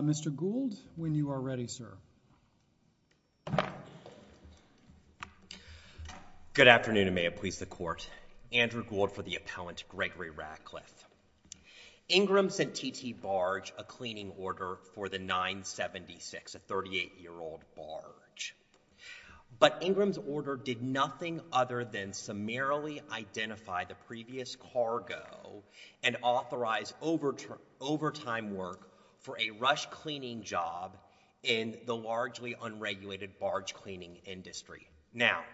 Mr. Gould, when you are ready, sir. Good afternoon, and may it please the Court. Andrew Gould for the Appellant Gregory Ratcliff. Ingram sent T.T. Barge a cleaning order for the 976, a 38-year-old barge. But Ingram's order did nothing other than summarily identify the previous cargo and authorize overtime work for a rush cleaning job in the largely unregulated barge cleaning industry. Now,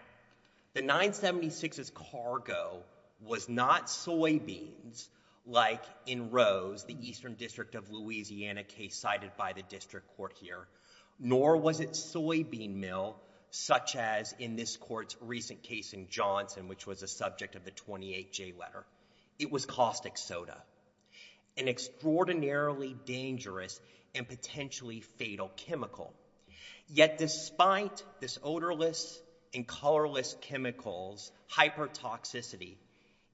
the 976's cargo was not soybeans, like in Rose, the eastern district of Louisiana, case cited by the district court here, nor was it soybean milk, such as in this court's recent case in Johnson, which was a subject of the 28J letter. It was caustic soda, an extraordinarily dangerous and potentially fatal chemical. Yet despite this odorless and colorless chemical's hypertoxicity,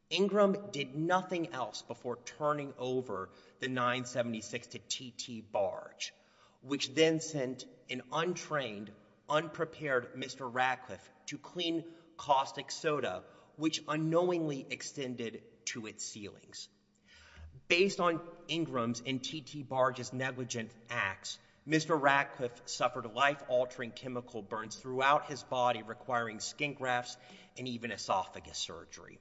Ingram did nothing else before turning over the 976 to T.T. Barge, which then sent an untrained, unprepared Mr. Ratcliff to clean caustic soda, which unknowingly extended to its ceilings. Based on Ingram's and T.T. Barge's negligent acts, Mr. Ratcliff suffered life-altering chemical burns throughout his body, requiring skin grafts and even esophagus surgery.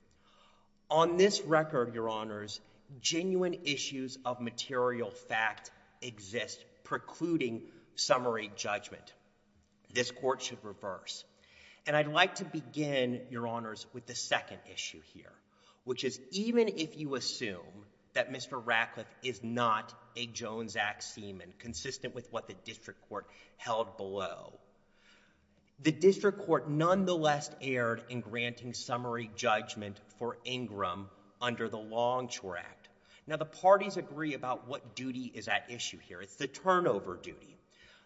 On this record, Your Honors, genuine issues of material fact exist, precluding summary judgment. This court should reverse. And I'd like to begin, Your Honors, with the second issue here, which is even if you assume that Mr. Ratcliff is not a Jones Act seaman, consistent with what the district court held below, the district court nonetheless erred in granting summary judgment for Ingram under the Longshore Act. Now, the parties agree about what duty is at issue here. It's the turnover duty.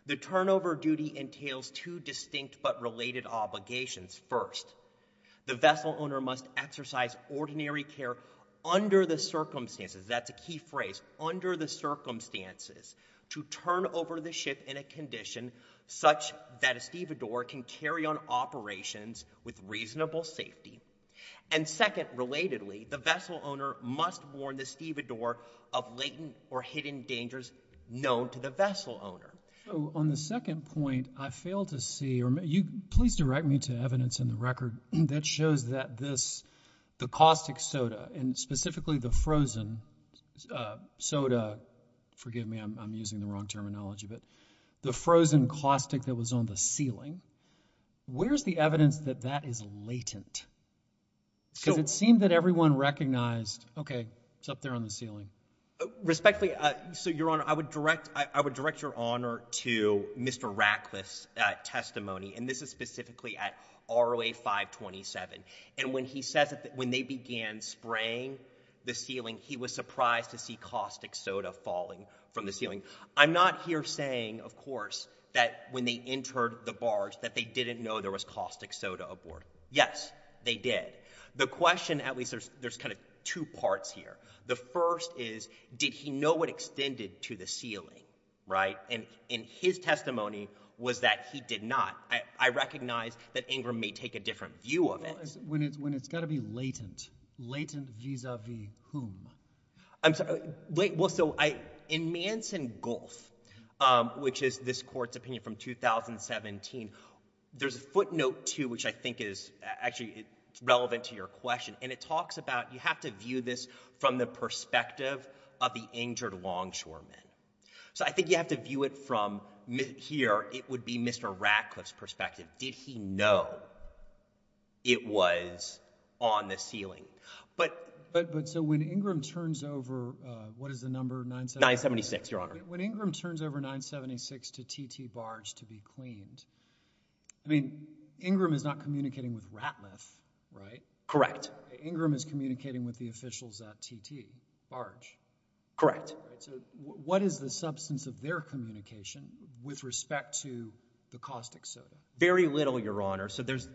The turnover duty entails two distinct but related obligations. First, the vessel owner must exercise ordinary care under the circumstances, that's a key phrase, under the circumstances, to turn over the ship in a condition such that a stevedore can carry on operations with reasonable safety. And second, relatedly, the vessel owner must warn the stevedore of latent or hidden dangers known to the vessel owner. So on the second point, I fail to see, or please direct me to evidence in the record that shows that this, the caustic soda and specifically the frozen soda, forgive me, I'm using the wrong terminology, but the frozen caustic that was on the ceiling, where's the evidence that that is latent? Because it seemed that everyone recognized, okay, it's up there on the ceiling. Respectfully, so Your Honor, I would direct your honor to Mr. Ratcliffe's testimony, and this is specifically at ROA 527. And when he says that when they began spraying the ceiling, he was surprised to see caustic soda falling from the ceiling. I'm not here saying, of course, that when they entered the barge that they didn't know there was caustic soda aboard. Yes, they did. The question, at least there's kind of two parts here. The first is, did he know what extended to the ceiling, right? And his testimony was that he did not. I recognize that Ingram may take a different view of it. When it's got to be latent, latent vis-a-vis whom? I'm sorry. Well, so in Manson-Golf, which is this court's opinion from 2017, there's a footnote, too, which I think is actually relevant to your question. And it talks about you have to view this from the perspective of the injured longshoremen. So I think you have to view it from here. It would be Mr. Ratcliffe's perspective. Did he know it was on the ceiling? But so when Ingram turns over, what is the number? 976, Your Honor. When Ingram turns over 976 to T.T. Barge to be cleaned, I mean, Ingram is not communicating with Ratcliffe, right? Correct. Ingram is communicating with the officials at T.T. Barge. Correct. So what is the substance of their communication with respect to the caustic soda? Very little, Your Honor. So there's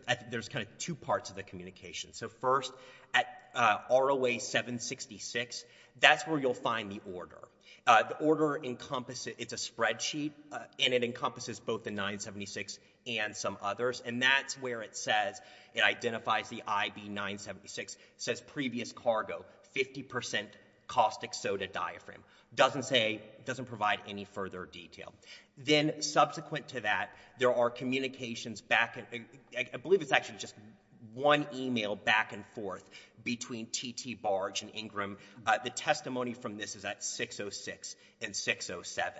kind of two parts of the communication. So first, at ROA 766, that's where you'll find the order. The order, it's a spreadsheet, and it encompasses both the 976 and some others. And that's where it says, it identifies the IB 976, says previous cargo, 50% caustic soda diaphragm. Doesn't say, doesn't provide any further detail. Then subsequent to that, there are communications back, I believe it's actually just one e-mail back and forth between T.T. Barge and Ingram. The testimony from this is at 606 and 607.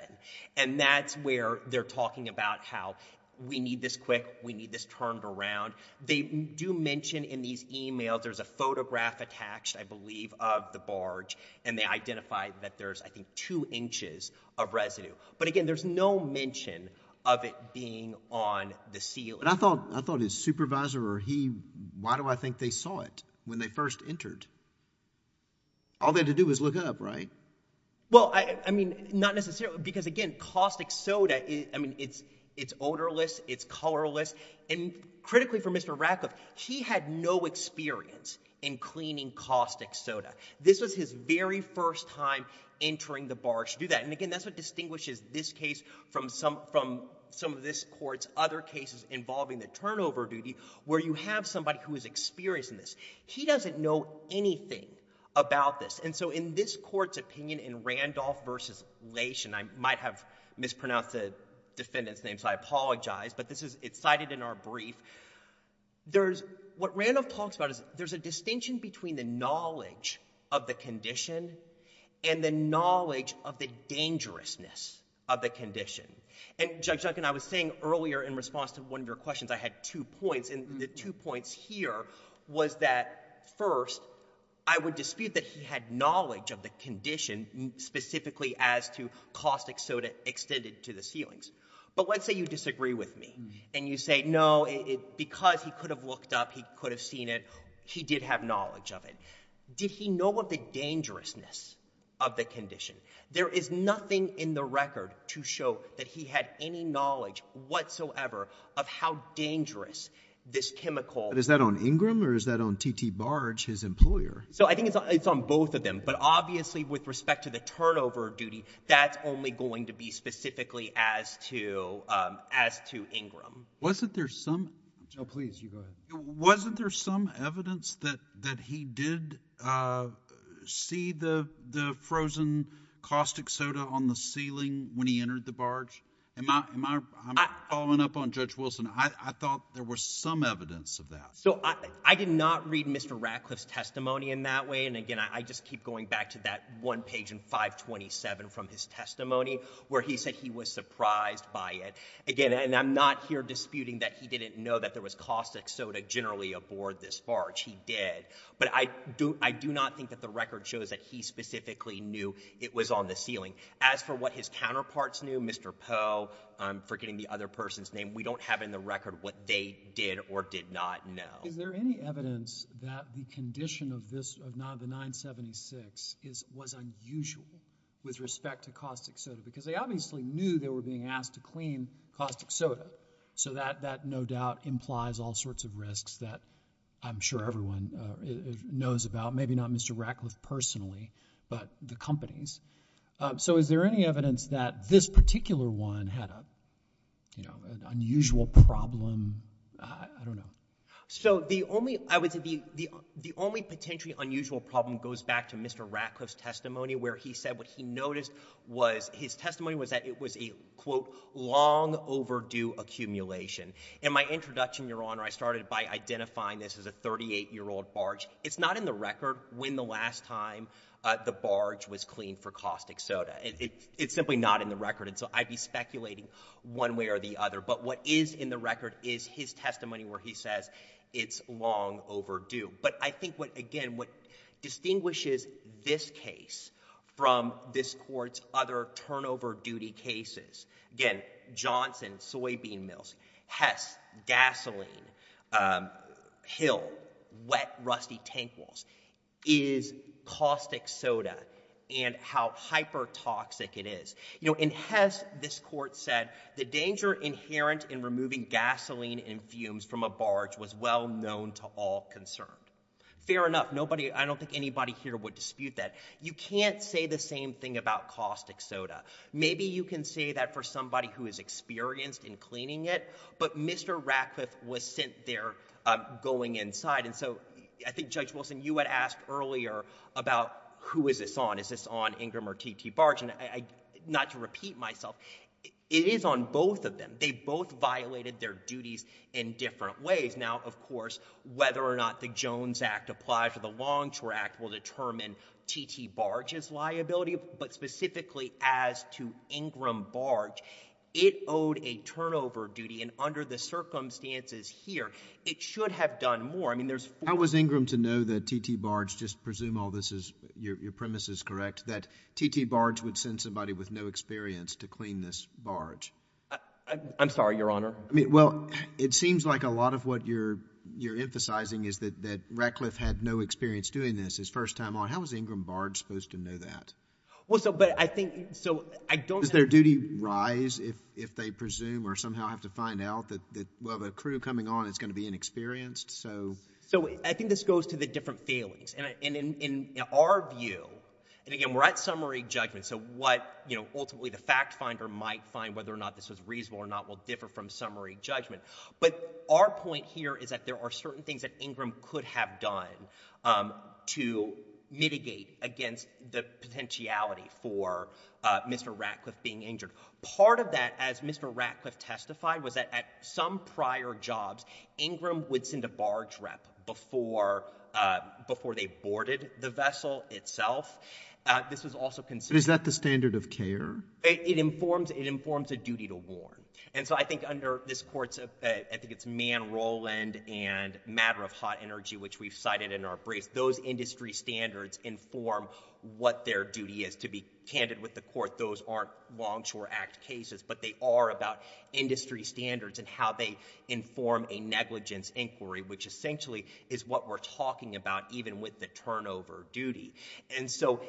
And that's where they're talking about how we need this quick, we need this turned around. They do mention in these e-mails, there's a photograph attached, I believe, of the barge, and they identify that there's, I think, two inches of residue. But, again, there's no mention of it being on the ceiling. And I thought his supervisor or he, why do I think they saw it when they first entered? All they had to do was look up, right? Well, I mean, not necessarily, because, again, caustic soda, I mean, it's odorless, it's colorless. And critically for Mr. Ratcliffe, he had no experience in cleaning caustic soda. This was his very first time entering the barge to do that. And, again, that's what distinguishes this case from some of this court's other cases involving the turnover duty, where you have somebody who is experienced in this. He doesn't know anything about this. And so in this court's opinion in Randolph v. Lation, I might have mispronounced the defendant's name, so I apologize. But it's cited in our brief. What Randolph talks about is there's a distinction between the knowledge of the condition and the knowledge of the dangerousness of the condition. And, Judge Duncan, I was saying earlier in response to one of your questions, I had two points. And the two points here was that, first, I would dispute that he had knowledge of the condition, specifically as to caustic soda extended to the ceilings. But let's say you disagree with me and you say, no, because he could have looked up, he could have seen it, he did have knowledge of it. Did he know of the dangerousness of the condition? There is nothing in the record to show that he had any knowledge whatsoever of how dangerous this chemical was. But is that on Ingram or is that on T.T. Barge, his employer? So I think it's on both of them. But obviously with respect to the turnover duty, that's only going to be specifically as to Ingram. Wasn't there some evidence that he did see the frozen caustic soda on the ceiling when he entered the barge? I'm following up on Judge Wilson. I thought there was some evidence of that. So I did not read Mr. Ratcliffe's testimony in that way. And, again, I just keep going back to that one page in 527 from his testimony where he said he was surprised by it. Again, and I'm not here disputing that he didn't know that there was caustic soda generally aboard this barge. He did. But I do not think that the record shows that he specifically knew it was on the ceiling. As for what his counterparts knew, Mr. Poe, I'm forgetting the other person's name, we don't have in the record what they did or did not know. Is there any evidence that the condition of this, of 976, was unusual with respect to caustic soda? Because they obviously knew they were being asked to clean caustic soda. So that, no doubt, implies all sorts of risks that I'm sure everyone knows about, maybe not Mr. Ratcliffe personally, but the companies. So is there any evidence that this particular one had an unusual problem? I don't know. So the only, I would say, the only potentially unusual problem goes back to Mr. Ratcliffe's testimony where he said what he noticed was, his testimony was that it was a, quote, long overdue accumulation. In my introduction, Your Honor, I started by identifying this as a 38-year-old barge. It's not in the record when the last time the barge was cleaned for caustic soda. It's simply not in the record. And so I'd be speculating one way or the other. But what is in the record is his testimony where he says it's long overdue. But I think what, again, what distinguishes this case from this court's other turnover duty cases, again, Johnson, soybean mills, Hess, gasoline, Hill, wet, rusty tank walls, is caustic soda and how hypertoxic it is. You know, in Hess, this court said the danger inherent in removing gasoline and fumes from a barge was well known to all concerned. Fair enough. Nobody, I don't think anybody here would dispute that. You can't say the same thing about caustic soda. Maybe you can say that for somebody who is experienced in cleaning it. But Mr. Ratcliffe was sent there going inside. And so I think, Judge Wilson, you had asked earlier about who is this on. Is this on Ingram or TT Barge? And not to repeat myself, it is on both of them. They both violated their duties in different ways. Now, of course, whether or not the Jones Act applies to the Longshore Act will determine TT Barge's liability. But specifically as to Ingram Barge, it owed a turnover duty. And under the circumstances here, it should have done more. How was Ingram to know that TT Barge, just presume all this is your premise is correct, that TT Barge would send somebody with no experience to clean this barge? I'm sorry, Your Honor. Well, it seems like a lot of what you're emphasizing is that Ratcliffe had no experience doing this his first time on. How was Ingram Barge supposed to know that? Well, but I think, so I don't know. Does their duty rise if they presume or somehow have to find out that a crew coming on is going to be inexperienced? So I think this goes to the different feelings. And in our view, and again, we're at summary judgment, so what ultimately the fact finder might find whether or not this was reasonable or not will differ from summary judgment. But our point here is that there are certain things that Ingram could have done to mitigate against the potentiality for Mr. Ratcliffe being injured. Part of that, as Mr. Ratcliffe testified, was that at some prior jobs, Ingram would send a barge rep before they boarded the vessel itself. This was also considered— Is that the standard of care? It informs a duty to warn. And so I think under this Court's, I think it's Mann-Roland and Matter of Hot Energy, which we've cited in our briefs, those industry standards inform what their duty is. To be candid with the Court, those aren't Longshore Act cases, but they are about industry standards and how they inform a negligence inquiry, which essentially is what we're talking about even with the turnover duty. And so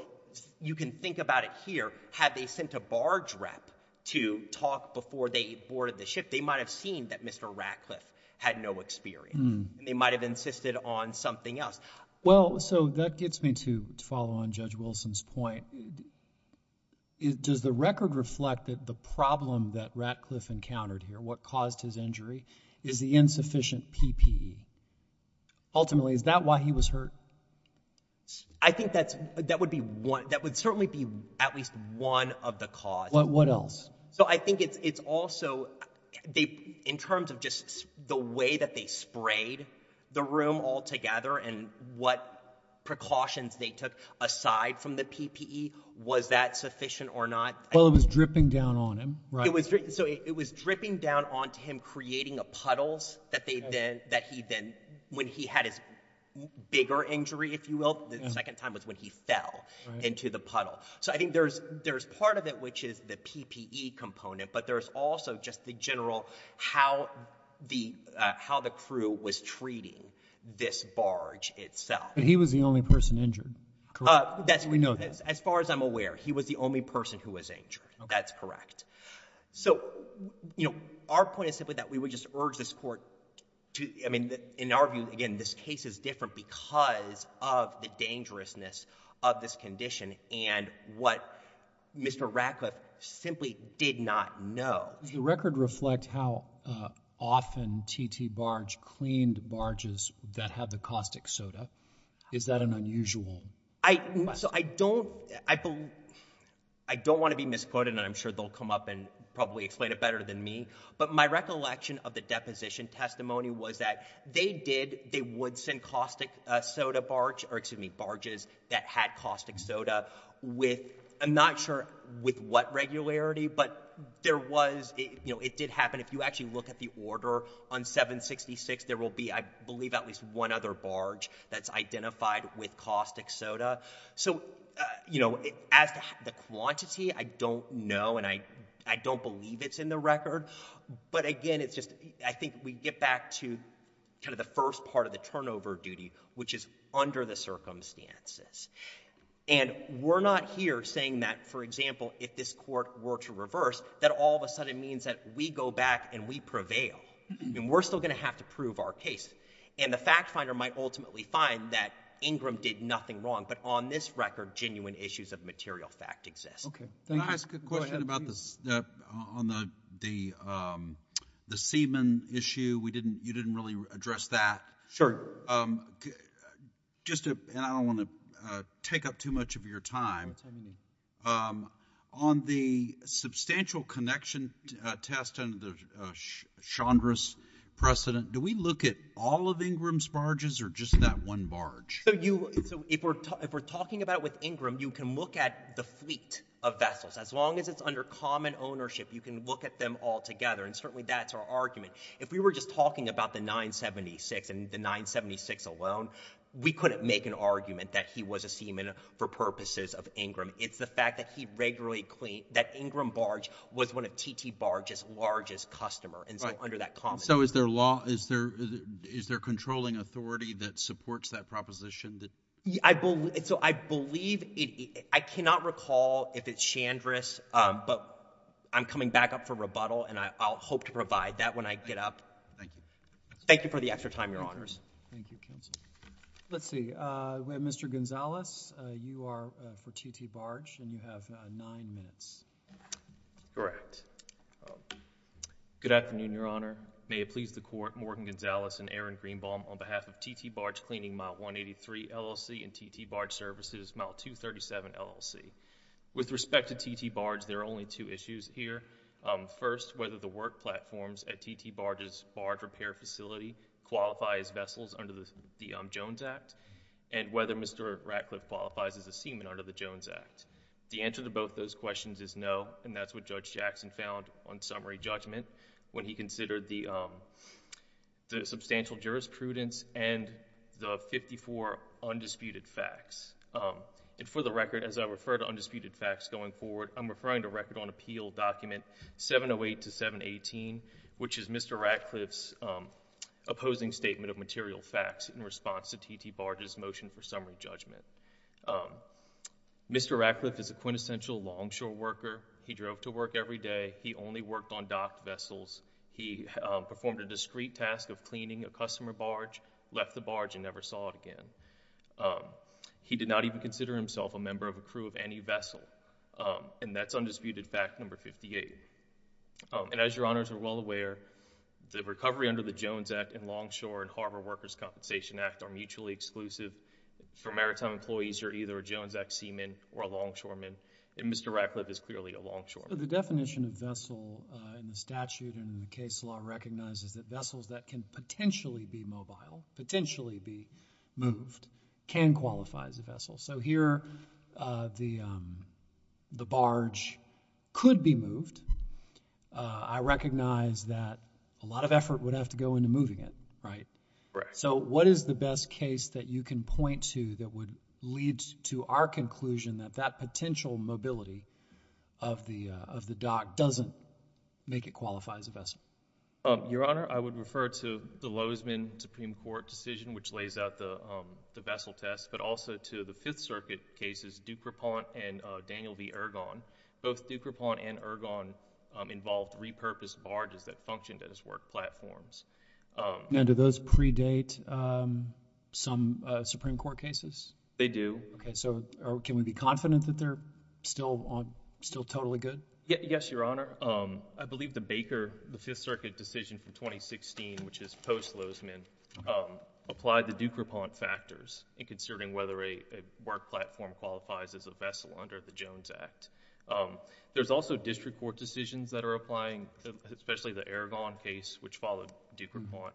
you can think about it here. Had they sent a barge rep to talk before they boarded the ship, they might have seen that Mr. Ratcliffe had no experience. They might have insisted on something else. Well, so that gets me to follow on Judge Wilson's point. Does the record reflect that the problem that Ratcliffe encountered here, what caused his injury, is the insufficient PPE? Ultimately, is that why he was hurt? I think that would certainly be at least one of the causes. What else? So I think it's also in terms of just the way that they sprayed the room altogether and what precautions they took aside from the PPE, was that sufficient or not? Well, it was dripping down on him, right? So it was dripping down onto him, creating puddles that he then, when he had his bigger injury, if you will, the second time was when he fell into the puddle. So I think there's part of it, which is the PPE component, but there's also just the general how the crew was treating this barge itself. But he was the only person injured, correct? We know that. As far as I'm aware, he was the only person who was injured. That's correct. So our point is simply that we would just urge this court to— I mean, in our view, again, this case is different because of the dangerousness of this condition and what Mr. Ratcliffe simply did not know. Does the record reflect how often T.T. Barge cleaned barges that had the caustic soda? Is that an unusual question? So I don't want to be misquoted, and I'm sure they'll come up and probably explain it better than me, but my recollection of the deposition testimony was that they did— or, excuse me, barges that had caustic soda with— I'm not sure with what regularity, but there was— you know, it did happen. If you actually look at the order on 766, there will be, I believe, at least one other barge that's identified with caustic soda. So, you know, as to the quantity, I don't know, and I don't believe it's in the record. But, again, it's just— I think we get back to kind of the first part of the turnover duty, which is under the circumstances. And we're not here saying that, for example, if this court were to reverse, that all of a sudden means that we go back and we prevail, and we're still going to have to prove our case. And the fact finder might ultimately find that Ingram did nothing wrong, but on this record, genuine issues of material fact exist. Can I ask a question about the semen issue? You didn't really address that. Sure. Just—and I don't want to take up too much of your time. On the substantial connection test under Chandra's precedent, do we look at all of Ingram's barges or just that one barge? So if we're talking about with Ingram, you can look at the fleet of vessels. As long as it's under common ownership, you can look at them all together, and certainly that's our argument. If we were just talking about the 976 and the 976 alone, we couldn't make an argument that he was a seaman for purposes of Ingram. It's the fact that he regularly cleaned—that Ingram barge was one of T.T. Barge's largest customers, and so under that common— So is there law—is there controlling authority that supports that proposition? So I believe—I cannot recall if it's Chandra's, but I'm coming back up for rebuttal, and I'll hope to provide that when I get up. Thank you. Thank you for the extra time, Your Honors. Thank you, counsel. Let's see. Mr. Gonzalez, you are for T.T. Barge, and you have nine minutes. Correct. Good afternoon, Your Honor. May it please the Court, Morgan Gonzalez and Aaron Greenbaum, on behalf of T.T. Barge Cleaning, Mile 183, LLC, and T.T. Barge Services, Mile 237, LLC. With respect to T.T. Barge, there are only two issues here. First, whether the work platforms at T.T. Barge's barge repair facility qualify as vessels under the Jones Act, and whether Mr. Ratcliffe qualifies as a seaman under the Jones Act. The answer to both those questions is no, and that's what Judge Jackson found on summary judgment when he considered the substantial jurisprudence and the 54 undisputed facts. For the record, as I refer to undisputed facts going forward, I'm referring to Record on Appeal Document 708-718, which is Mr. Ratcliffe's opposing statement of material facts in response to T.T. Barge's motion for summary judgment. Mr. Ratcliffe is a quintessential longshore worker. He drove to work every day. He only worked on docked vessels. He performed a discreet task of cleaning a customer barge, left the barge, and never saw it again. He did not even consider himself a member of a crew of any vessel, and that's undisputed fact number 58. And as Your Honors are well aware, the recovery under the Jones Act and Longshore and Harbor Workers' Compensation Act are mutually exclusive. For maritime employees, you're either a Jones Act seaman or a longshoreman, and Mr. Ratcliffe is clearly a longshoreman. The definition of vessel in the statute and in the case law recognizes that vessels that can potentially be mobile, potentially be moved, can qualify as a vessel. So here the barge could be moved. I recognize that a lot of effort would have to go into moving it, right? Right. So what is the best case that you can point to that would lead to our conclusion that that potential mobility of the dock doesn't make it qualify as a vessel? Your Honor, I would refer to the Lozman Supreme Court decision, which lays out the vessel test, but also to the Fifth Circuit cases, Ducrepont and Daniel v. Ergon. Both Ducrepont and Ergon involved repurposed barges that functioned as work platforms. And do those predate some Supreme Court cases? They do. Okay. So can we be confident that they're still totally good? Yes, Your Honor. I believe the Baker, the Fifth Circuit decision from 2016, which is post Lozman, applied the Ducrepont factors in considering whether a work platform qualifies as a vessel under the Jones Act. There's also district court decisions that are applying, especially the Ergon case, which followed Ducrepont.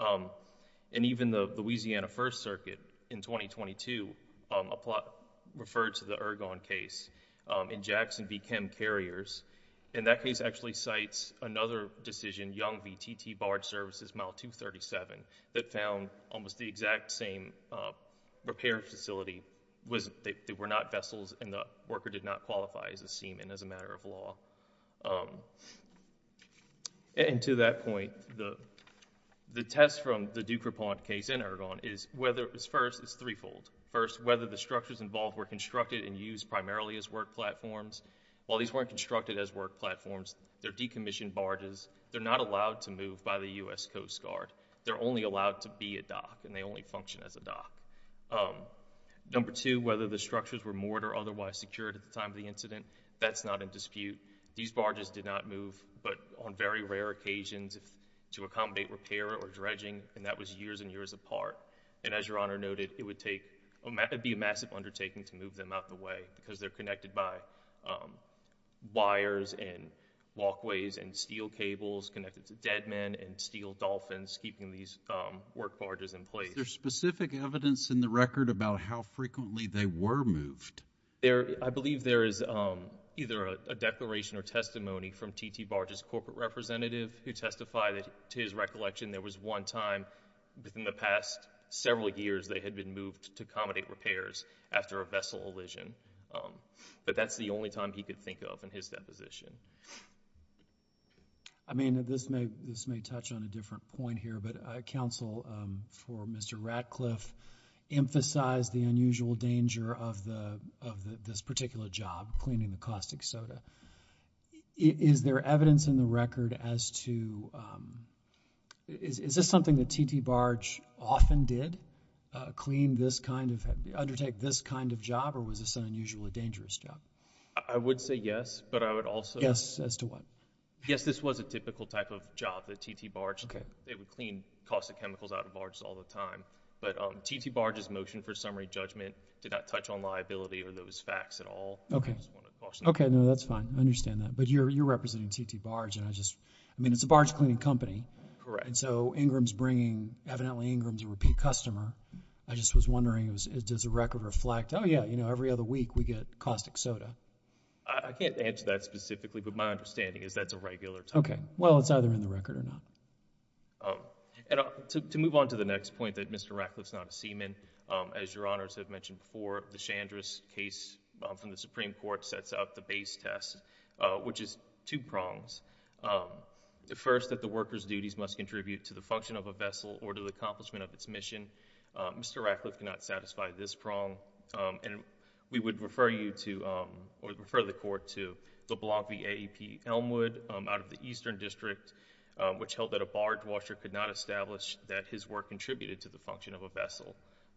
And even the Louisiana First Circuit in 2022 referred to the Ergon case in Jackson v. Chem Carriers. And that case actually cites another decision, Young v. T.T. Barge Services, Model 237, that found almost the exact same repair facility. They were not vessels and the worker did not qualify as a seaman as a matter of law. And to that point, the test from the Ducrepont case and Ergon is, first, it's threefold. First, whether the structures involved were constructed and used primarily as work platforms. While these weren't constructed as work platforms, they're decommissioned barges. They're not allowed to move by the U.S. Coast Guard. They're only allowed to be a dock and they only function as a dock. Number two, whether the structures were moored or otherwise secured at the time of the incident, that's not in dispute. These barges did not move, but on very rare occasions to accommodate repair or dredging, and that was years and years apart. And as Your Honor noted, it would be a massive undertaking to move them out of the way because they're connected by wires and walkways and steel cables connected to dead men and steel dolphins, keeping these work barges in place. Is there specific evidence in the record about how frequently they were moved? I believe there is either a declaration or testimony from T.T. Barge's corporate representative who testified that to his recollection there was one time within the past several years they had been moved to accommodate repairs after a vessel elision. But that's the only time he could think of in his deposition. I mean, this may touch on a different point here, but counsel for Mr. Ratcliffe emphasized the unusual danger of this particular job, cleaning the caustic soda. Is there evidence in the record as to – is this something that T.T. Barge often did, clean this kind of – undertake this kind of job, or was this an unusually dangerous job? I would say yes, but I would also – Yes, as to what? Yes, this was a typical type of job that T.T. Barge – they would clean caustic chemicals out of barges all the time. But T.T. Barge's motion for summary judgment did not touch on liability or those facts at all. Okay. Okay, no, that's fine. I understand that. But you're representing T.T. Barge, and I just – I mean, it's a barge cleaning company. Correct. And so Ingram's bringing – evidently Ingram's a repeat customer. I just was wondering, does the record reflect, oh, yeah, you know, every other week we get caustic soda? I can't answer that specifically, but my understanding is that's a regular time. Okay. Well, it's either in the record or not. And to move on to the next point that Mr. Ratcliffe's not a seaman, as Your Honors have mentioned before, the Chandra's case from the Supreme Court sets out the base test, which is two prongs. The first, that the worker's duties must contribute to the function of a vessel or to the accomplishment of its mission. Mr. Ratcliffe cannot satisfy this prong. And we would refer you to – or refer the Court to the Blompie AEP Elmwood out of the Eastern District, which held that a barge washer could not establish that his work contributed to the function of a vessel.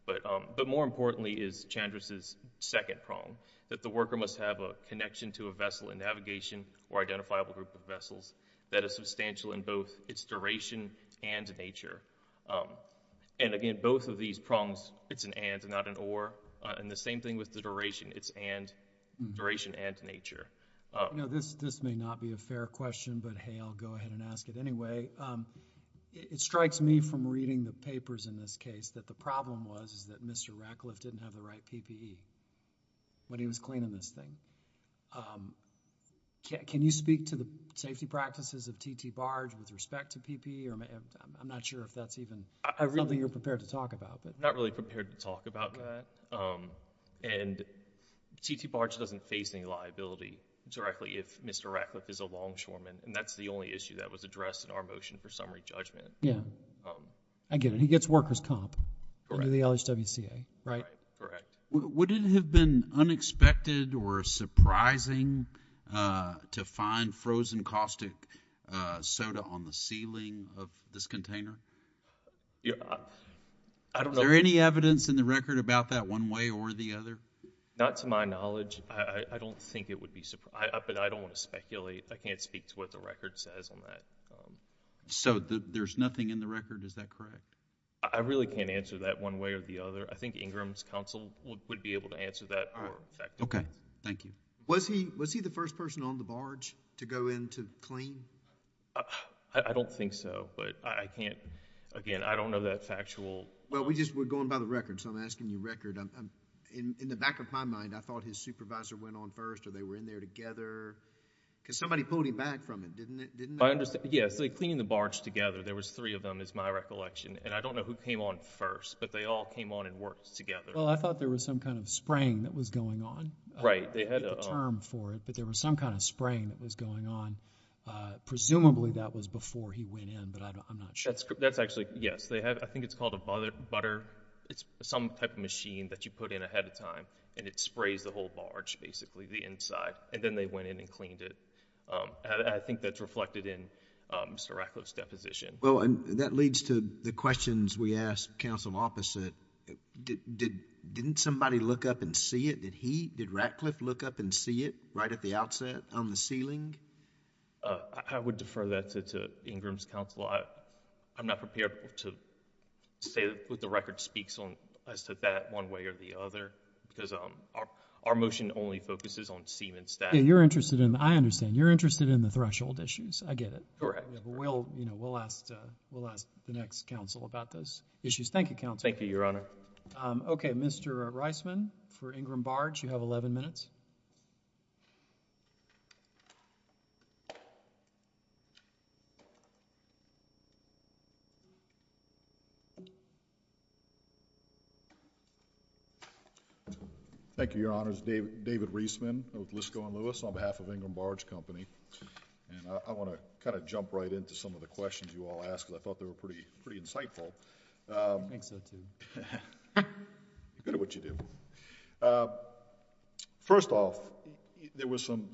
But more importantly is Chandra's second prong, that the worker must have a connection to a vessel in navigation or identifiable group of vessels that is substantial in both its duration and nature. And, again, both of these prongs, it's an and, not an or. And the same thing with the duration. It's and – duration and nature. You know, this may not be a fair question, but, hey, I'll go ahead and ask it anyway. It strikes me from reading the papers in this case that the problem was that Mr. Ratcliffe didn't have the right PPE when he was cleaning this thing. Can you speak to the safety practices of T.T. Barge with respect to PPE? I'm not sure if that's even something you're prepared to talk about. I'm not really prepared to talk about that. And T.T. Barge doesn't face any liability directly if Mr. Ratcliffe is a longshoreman. And that's the only issue that was addressed in our motion for summary judgment. Yeah. I get it. He gets worker's comp under the LHWCA, right? Right. Correct. Would it have been unexpected or surprising to find frozen caustic soda on the ceiling of this container? I don't know. Is there any evidence in the record about that one way or the other? Not to my knowledge. I don't think it would be – but I don't want to speculate. I can't speak to what the record says on that. So there's nothing in the record? Is that correct? I really can't answer that one way or the other. I think Ingram's counsel would be able to answer that more effectively. All right. Okay. Thank you. Was he the first person on the barge to go in to clean? I don't think so. But I can't – again, I don't know that factual – Well, we're going by the record. So I'm asking you record. In the back of my mind, I thought his supervisor went on first or they were in there together. Because somebody pulled him back from it, didn't they? Yes. They cleaned the barge together. There was three of them is my recollection. And I don't know who came on first, but they all came on and worked together. Well, I thought there was some kind of spraying that was going on. Right. They had a term for it, but there was some kind of spraying that was going on. Presumably that was before he went in, but I'm not sure. That's actually – yes. I think it's called a butter – it's some type of machine that you put in ahead of time, and it sprays the whole barge basically, the inside. And then they went in and cleaned it. I think that's reflected in Mr. Ratcliffe's deposition. Well, that leads to the questions we asked counsel opposite. Didn't somebody look up and see it? Did he – did Ratcliffe look up and see it right at the outset on the ceiling? I would defer that to Ingram's counsel. I'm not prepared to say what the record speaks on as to that one way or the other because our motion only focuses on seam and stack. You're interested in – I understand. You're interested in the threshold issues. I get it. Correct. We'll ask the next counsel about those issues. Thank you, counsel. Thank you, Your Honor. Okay. Mr. Reisman for Ingram Barge, you have 11 minutes. Thank you, Your Honors. David Reisman with Lisco & Lewis on behalf of Ingram Barge Company. And I want to kind of jump right into some of the questions you all asked because I thought they were pretty insightful. I think so too. You're good at what you do. First off, there was some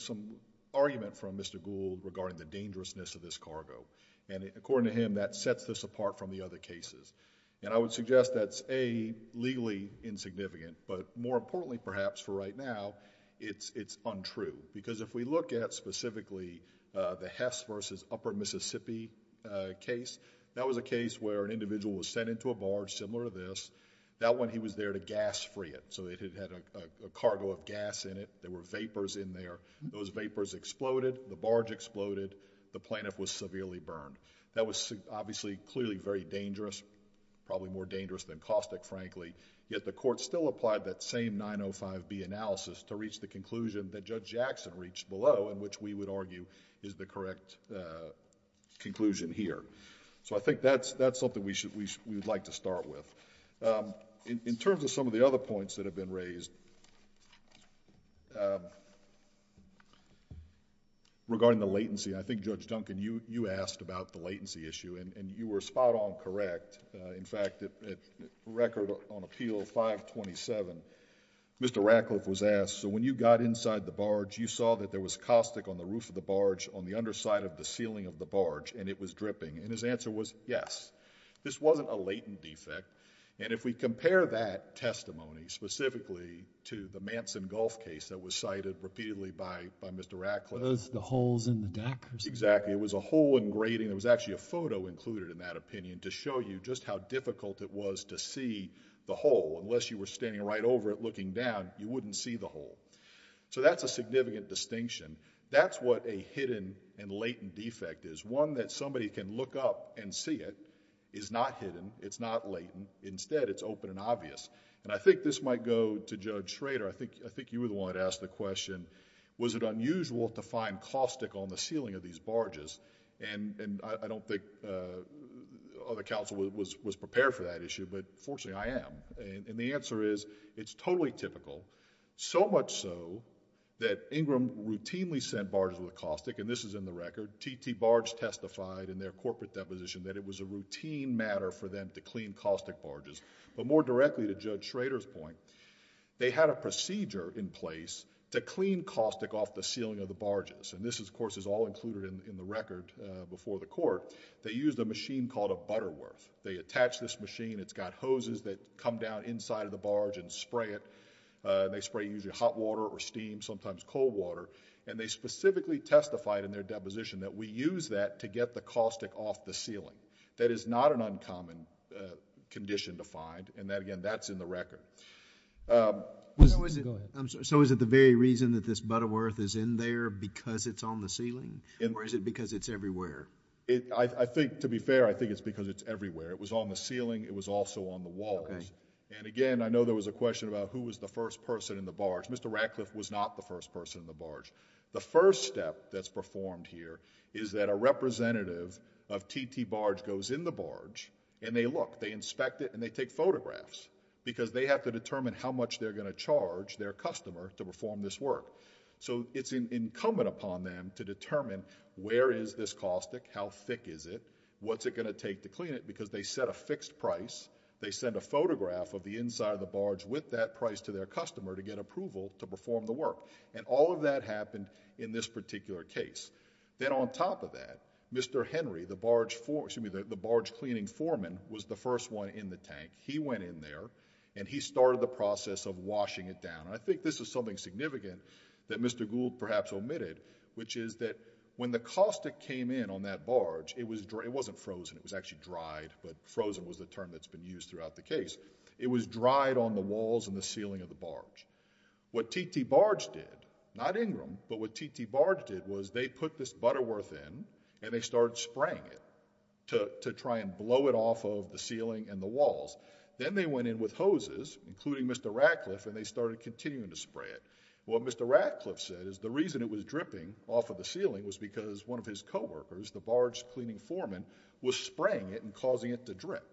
argument from Mr. Gould regarding the dangerousness of this cargo. And according to him, that sets this apart from the other cases. And I would suggest that's A, legally insignificant, but more importantly perhaps for right now, it's untrue. Because if we look at specifically the Hess versus Upper Mississippi case, that was a case where an individual was sent into a barge similar to this. That one, he was there to gas free it. So it had a cargo of gas in it. There were vapors in there. Those vapors exploded. The barge exploded. The plaintiff was severely burned. That was obviously clearly very dangerous, probably more dangerous than caustic frankly. Yet the court still applied that same 905B analysis to reach the conclusion that Judge Jackson reached below in which we would argue is the correct conclusion here. So I think that's something we would like to start with. In terms of some of the other points that have been raised regarding the latency, I think Judge Duncan, you asked about the latency issue. And you were spot on correct. In fact, at record on Appeal 527, Mr. Ratcliffe was asked, so when you got inside the barge, you saw that there was caustic on the roof of the barge, on the underside of the ceiling of the barge, and it was dripping. And his answer was yes. This wasn't a latent defect. And if we compare that testimony specifically to the Manson Gulf case that was cited repeatedly by Mr. Ratcliffe... Those, the holes in the deck... Exactly. It was a hole in grating. There was actually a photo included in that opinion to show you just how difficult it was to see the hole. Unless you were standing right over it looking down, you wouldn't see the hole. So that's a significant distinction. That's what a hidden and latent defect is. One that somebody can look up and see it is not hidden. It's not latent. Instead, it's open and obvious. And I think this might go to Judge Schrader. I think you were the one that asked the question, was it unusual to find caustic on the ceiling of these barges? And I don't think other counsel was prepared for that issue, but fortunately I am. And the answer is, it's totally typical. So much so that Ingram routinely sent barges with caustic, and this is in the record. T.T. Barge testified in their corporate deposition that it was a routine matter for them to clean caustic barges. But more directly to Judge Schrader's point, they had a procedure in place to clean caustic off the ceiling of the barges. And this, of course, is all included in the record before the court. They used a machine called a Butterworth. They attach this machine. It's got hoses that come down inside of the barge and spray it. They spray usually hot water or steam, sometimes cold water. And they specifically testified in their deposition that we use that to get the caustic off the ceiling. That is not an uncommon condition to find. And again, that's in the record. Go ahead. So is it the very reason that this Butterworth is in there, because it's on the ceiling? Or is it because it's everywhere? I think, to be fair, I think it's because it's everywhere. It was on the ceiling. It was also on the walls. And again, I know there was a question about who was the first person in the barge. Mr. Ratcliffe was not the first person in the barge. The first step that's performed here is that a representative of T.T. Barge goes in the barge, and they look. They inspect it, and they take photographs, because they have to determine how much they're going to charge their customer to perform this work. So it's incumbent upon them to determine where is this caustic, how thick is it, what's it going to take to clean it, because they set a fixed price. They send a photograph of the inside of the barge with that price to their customer to get approval to perform the work. And all of that happened in this particular case. Then on top of that, Mr. Henry, the barge cleaning foreman, was the first one in the tank. He went in there, and he started the process of washing it down. I think this is something significant that Mr. Gould perhaps omitted, which is that when the caustic came in on that barge, it wasn't frozen. It was actually dried, but frozen was the term that's been used throughout the case. It was dried on the walls and the ceiling of the barge. What T.T. Barge did, not Ingram, but what T.T. Barge did was they put this Butterworth in, and they started spraying it to try and blow it off of the ceiling and the walls. Then they went in with hoses, including Mr. Ratcliffe, and they started continuing to spray it. What Mr. Ratcliffe said is the reason it was dripping off of the ceiling was because one of his coworkers, the barge cleaning foreman, was spraying it and causing it to drip.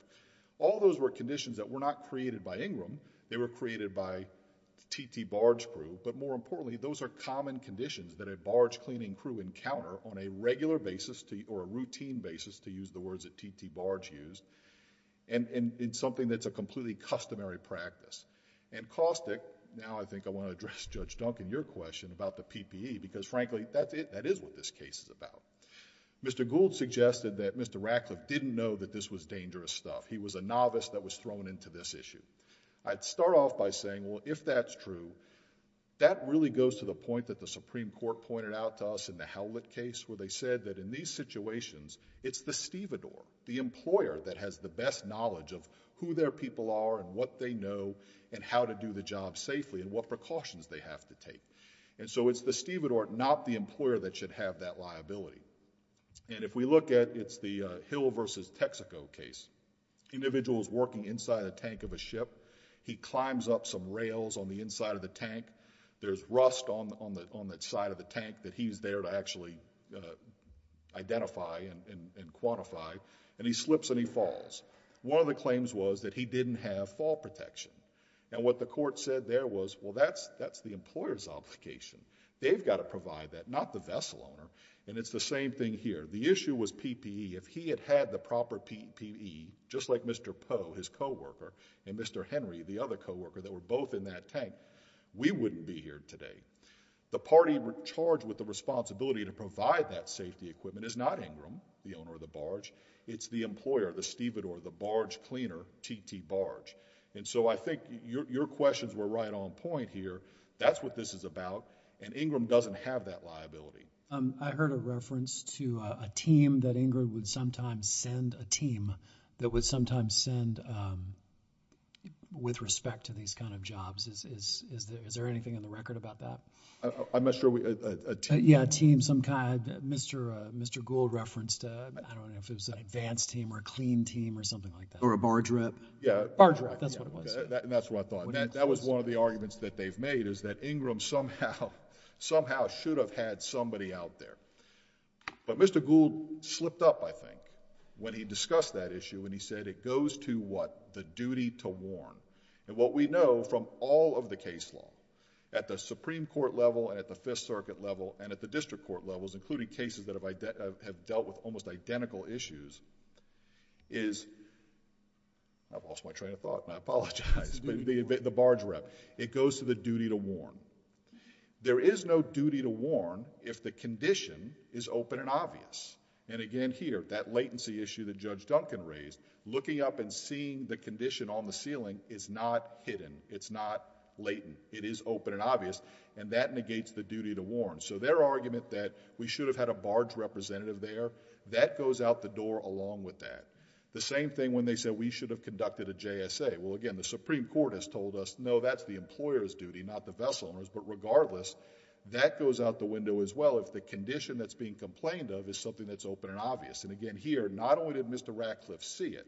All those were conditions that were not created by Ingram. They were created by T.T. Barge crew, but more importantly, those are common conditions that a barge cleaning crew encounter on a regular basis or a routine basis, to use the words that T.T. Barge used, and in something that's a completely customary practice. Caustic, now I think I want to address Judge Duncan, your question about the PPE, because frankly, that is what this case is about. Mr. Gould suggested that Mr. Ratcliffe didn't know that this was dangerous stuff. He was a novice that was thrown into this issue. I'd start off by saying, well, if that's true, that really goes to the point that the Supreme Court pointed out to us in the Howlett case where they said that in these situations, it's the stevedore, the employer that has the best knowledge of who their people are and what they know and how to do the job safely and what precautions they have to take. It's the stevedore, not the employer that should have that liability. If we look at, it's the Hill versus Texaco case. Individual is working inside a tank of a ship. He climbs up some rails on the inside of the tank. There's rust on the side of the tank that he's there to actually identify and quantify, and he slips and he falls. One of the claims was that he didn't have fall protection. What the court said there was, well, that's the employer's obligation. They've got to provide that, not the vessel owner. It's the same thing here. The issue was PPE. If he had had the proper PPE, just like Mr. Poe, his co-worker, and Mr. Henry, the other co-worker that were both in that tank, we wouldn't be here today. The party charged with the responsibility to provide that safety equipment is not Ingram, the owner of the barge. It's the employer, the stevedore, the barge cleaner, TT Barge. I think your questions were right on point here. That's what this is about, and Ingram doesn't have that liability. I heard a reference to a team that Ingram would sometimes send, a team that would sometimes send with respect to these kind of jobs. Is there anything in the record about that? I'm not sure. Yeah, a team, some kind. Mr. Gould referenced, I don't know if it was an advanced team or a clean team or something like that. Or a barge rep. Yeah. Barge rep, that's what it was. That's what I thought. That was one of the arguments that they've made is that Ingram somehow should have had somebody out there. But Mr. Gould slipped up, I think, when he discussed that issue and he said, it goes to what? The duty to warn. What we know from all of the case law, at the Supreme Court level and at the Fifth Circuit level and at the district court levels, including cases that have dealt with almost identical issues is... I've lost my train of thought and I apologize. It's the duty to warn. The barge rep. It goes to the duty to warn. There is no duty to warn if the condition is open and obvious. Again, here, that latency issue that Judge Duncan raised, looking up and seeing the condition on the ceiling is not hidden. It's not latent. It is open and obvious and that negates the duty to warn. Their argument that we should have had a barge representative there, that goes out the door along with that. The same thing when they said we should have conducted a JSA. Well, again, the Supreme Court has told us, no, that's the employer's duty, not the vessel owner's, but regardless, that goes out the window as well if the condition that's being complained of is something that's open and obvious. Again, here, not only did Mr. Ratcliffe see it,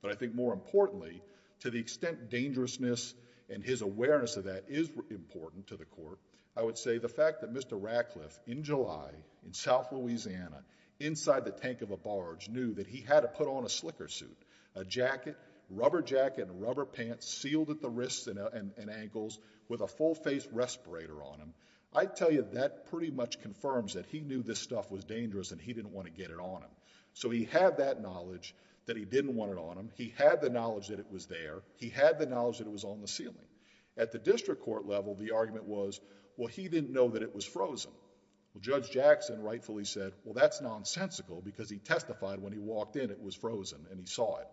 but I think more importantly, to the extent dangerousness and his awareness of that is important to the court, I would say the fact that Mr. Ratcliffe, in July, in South Louisiana, inside the tank of a barge, knew that he had to put on a slicker suit, a jacket, rubber jacket and rubber pants, sealed at the wrists and ankles, with a full face respirator on him. I'd tell you that pretty much confirms that he knew this stuff was dangerous and he didn't want to get it on him. He had that knowledge that he didn't want it on him. He had the knowledge that it was there. He had the knowledge that it was on the ceiling. At the district court level, the argument was, well, he didn't know that it was frozen. Well, Judge Jackson rightfully said, well, that's nonsensical because he testified when he walked in it was frozen and he saw it.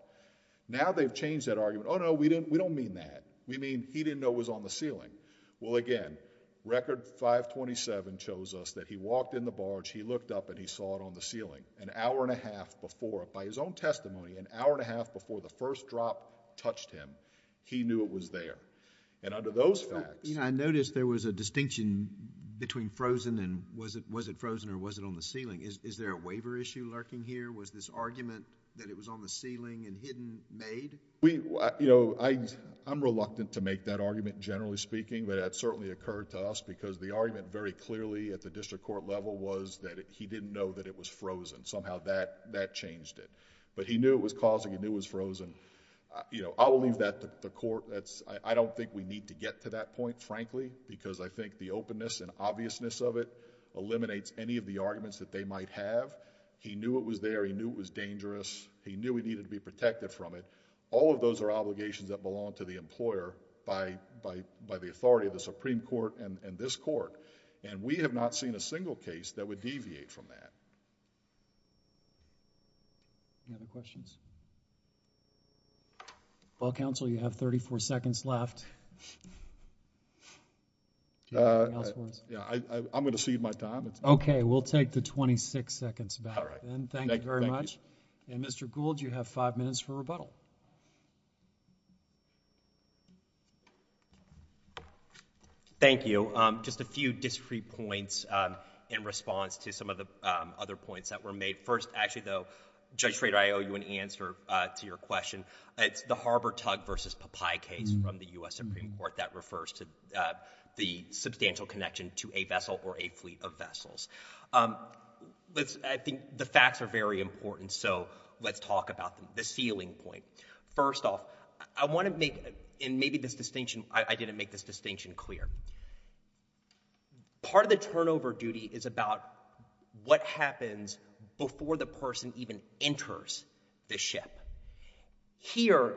Now, they've changed that argument. Oh, no, we don't mean that. We mean he didn't know it was on the ceiling. Well, again, Record 527 shows us that he walked in the barge, he looked up and he saw it on the ceiling. An hour and a half before, by his own testimony, an hour and a half before the first drop touched him, he knew it was there. Under those facts...... I noticed there was a distinction between frozen and was it frozen or was it on the ceiling. Is there a waiver issue lurking here? Was this argument that it was on the ceiling and hidden made? I'm reluctant to make that argument generally speaking, but it certainly occurred to us because the argument very clearly at the district court level was that he didn't know that it was frozen. Somehow, that changed it. He knew it was causing, he knew it was frozen. I will leave that to the court. I don't think we need to get to that point, frankly, because I think the openness and obviousness of it eliminates any of the arguments that they might have. He knew it was there. He knew it was dangerous. He knew he needed to be protected from it. All of those are obligations that belong to the employer by the authority of the Supreme Court and this court. We have not seen a single case that would deviate from that. Any other questions? Well, counsel, you have 34 seconds left. Do you have anything else for us? I'm going to cede my time. Okay. We'll take the 26 seconds back. Thank you very much. Mr. Gould, you have five minutes for rebuttal. Thank you. Just a few discrete points in response to some of the other points that were made. First, actually, though, Judge Schrader, I owe you an answer to your question. It's the Harbor Tug v. Popeye case from the U.S. Supreme Court that refers to the substantial connection to a vessel or a fleet of vessels. I think the facts are very important, so let's talk about the ceiling point. First off, I want to make, and maybe this distinction, I didn't make this part of the turnover duty is about what happens before the person even enters the ship. Here,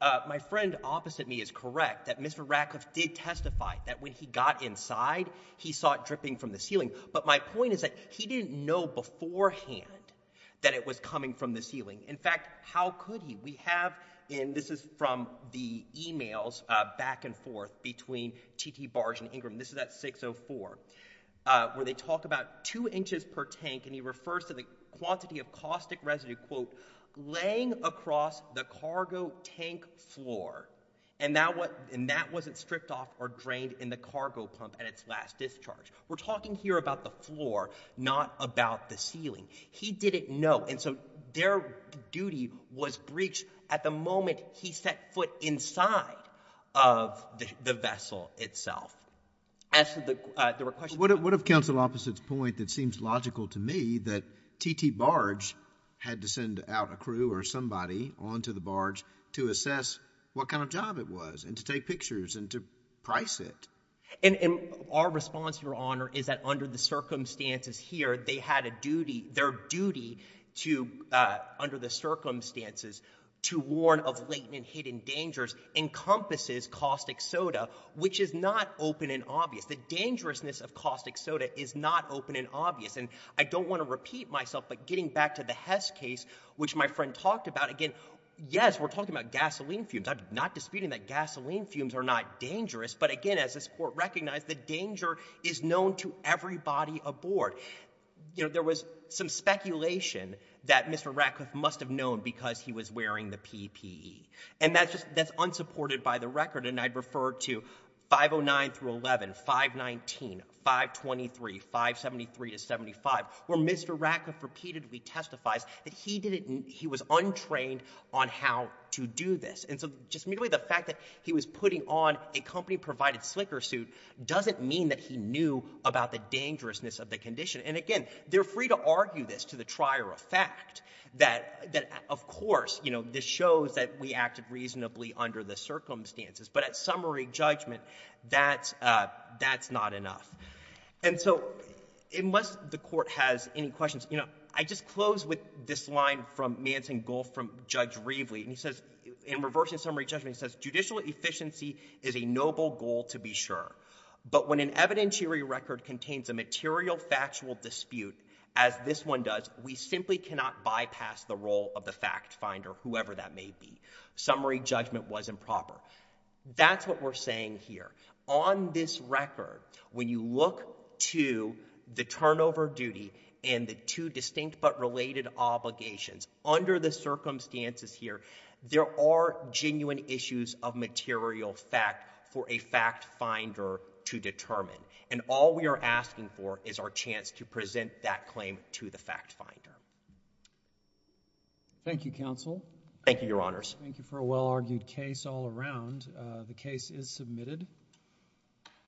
my friend opposite me is correct that Mr. Ratcliffe did testify that when he got inside, he saw it dripping from the ceiling. But my point is that he didn't know beforehand that it was coming from the ceiling. In fact, how could he? We have, and this is from the e-mails back and forth between T.T. Barge and Ingram, this is at 604, where they talk about two inches per tank, and he refers to the quantity of caustic residue, quote, laying across the cargo tank floor, and that wasn't stripped off or drained in the cargo pump at its last discharge. We're talking here about the floor, not about the ceiling. He didn't know, and so their duty was breached at the moment he set foot inside of the vessel itself. What of counsel opposite's point that seems logical to me that T.T. Barge had to send out a crew or somebody onto the barge to assess what kind of job it was and to take pictures and to price it? Our response, Your Honor, is that under the circumstances here, they had to have a crew. So I don't want to repeat myself but getting back to the Hess case, which my friend talked about, again, yes, we're talking about gasoline fumes. I'm not disputing that gasoline fumes are not dangerous, but again, as this is unsupported by the record, and I'd refer to 509 through 11, 519, 523, 573 to 75, where Mr. Ratcliffe repeatedly testifies that he was untrained on how to do this. And so just merely the fact that he was putting on a company-provided slicker suit doesn't mean that he knew about the dangerousness of the condition. And again, they're free to argue this to the trier of fact that, of course, you know, this shows that we acted reasonably under the circumstances. But at summary judgment, that's not enough. And so unless the Court has any questions, you know, I just close with this line from Manson Gould from Judge Reveley, and he says, in reversing summary judgment, he says, judicial efficiency is a noble goal to be sure. But when an evidentiary record contains a material factual dispute, as this one does, we simply cannot bypass the role of the fact finder, whoever that may be. Summary judgment was improper. That's what we're saying here. On this record, when you look to the turnover duty and the two distinct but related obligations, under the circumstances here, there are genuine issues of material fact for a fact finder to determine. And all we are asking for is our chance to present that claim to the fact finder. Thank you, Counsel. Thank you, Your Honors. Thank you for a well-argued case all around. The case is submitted.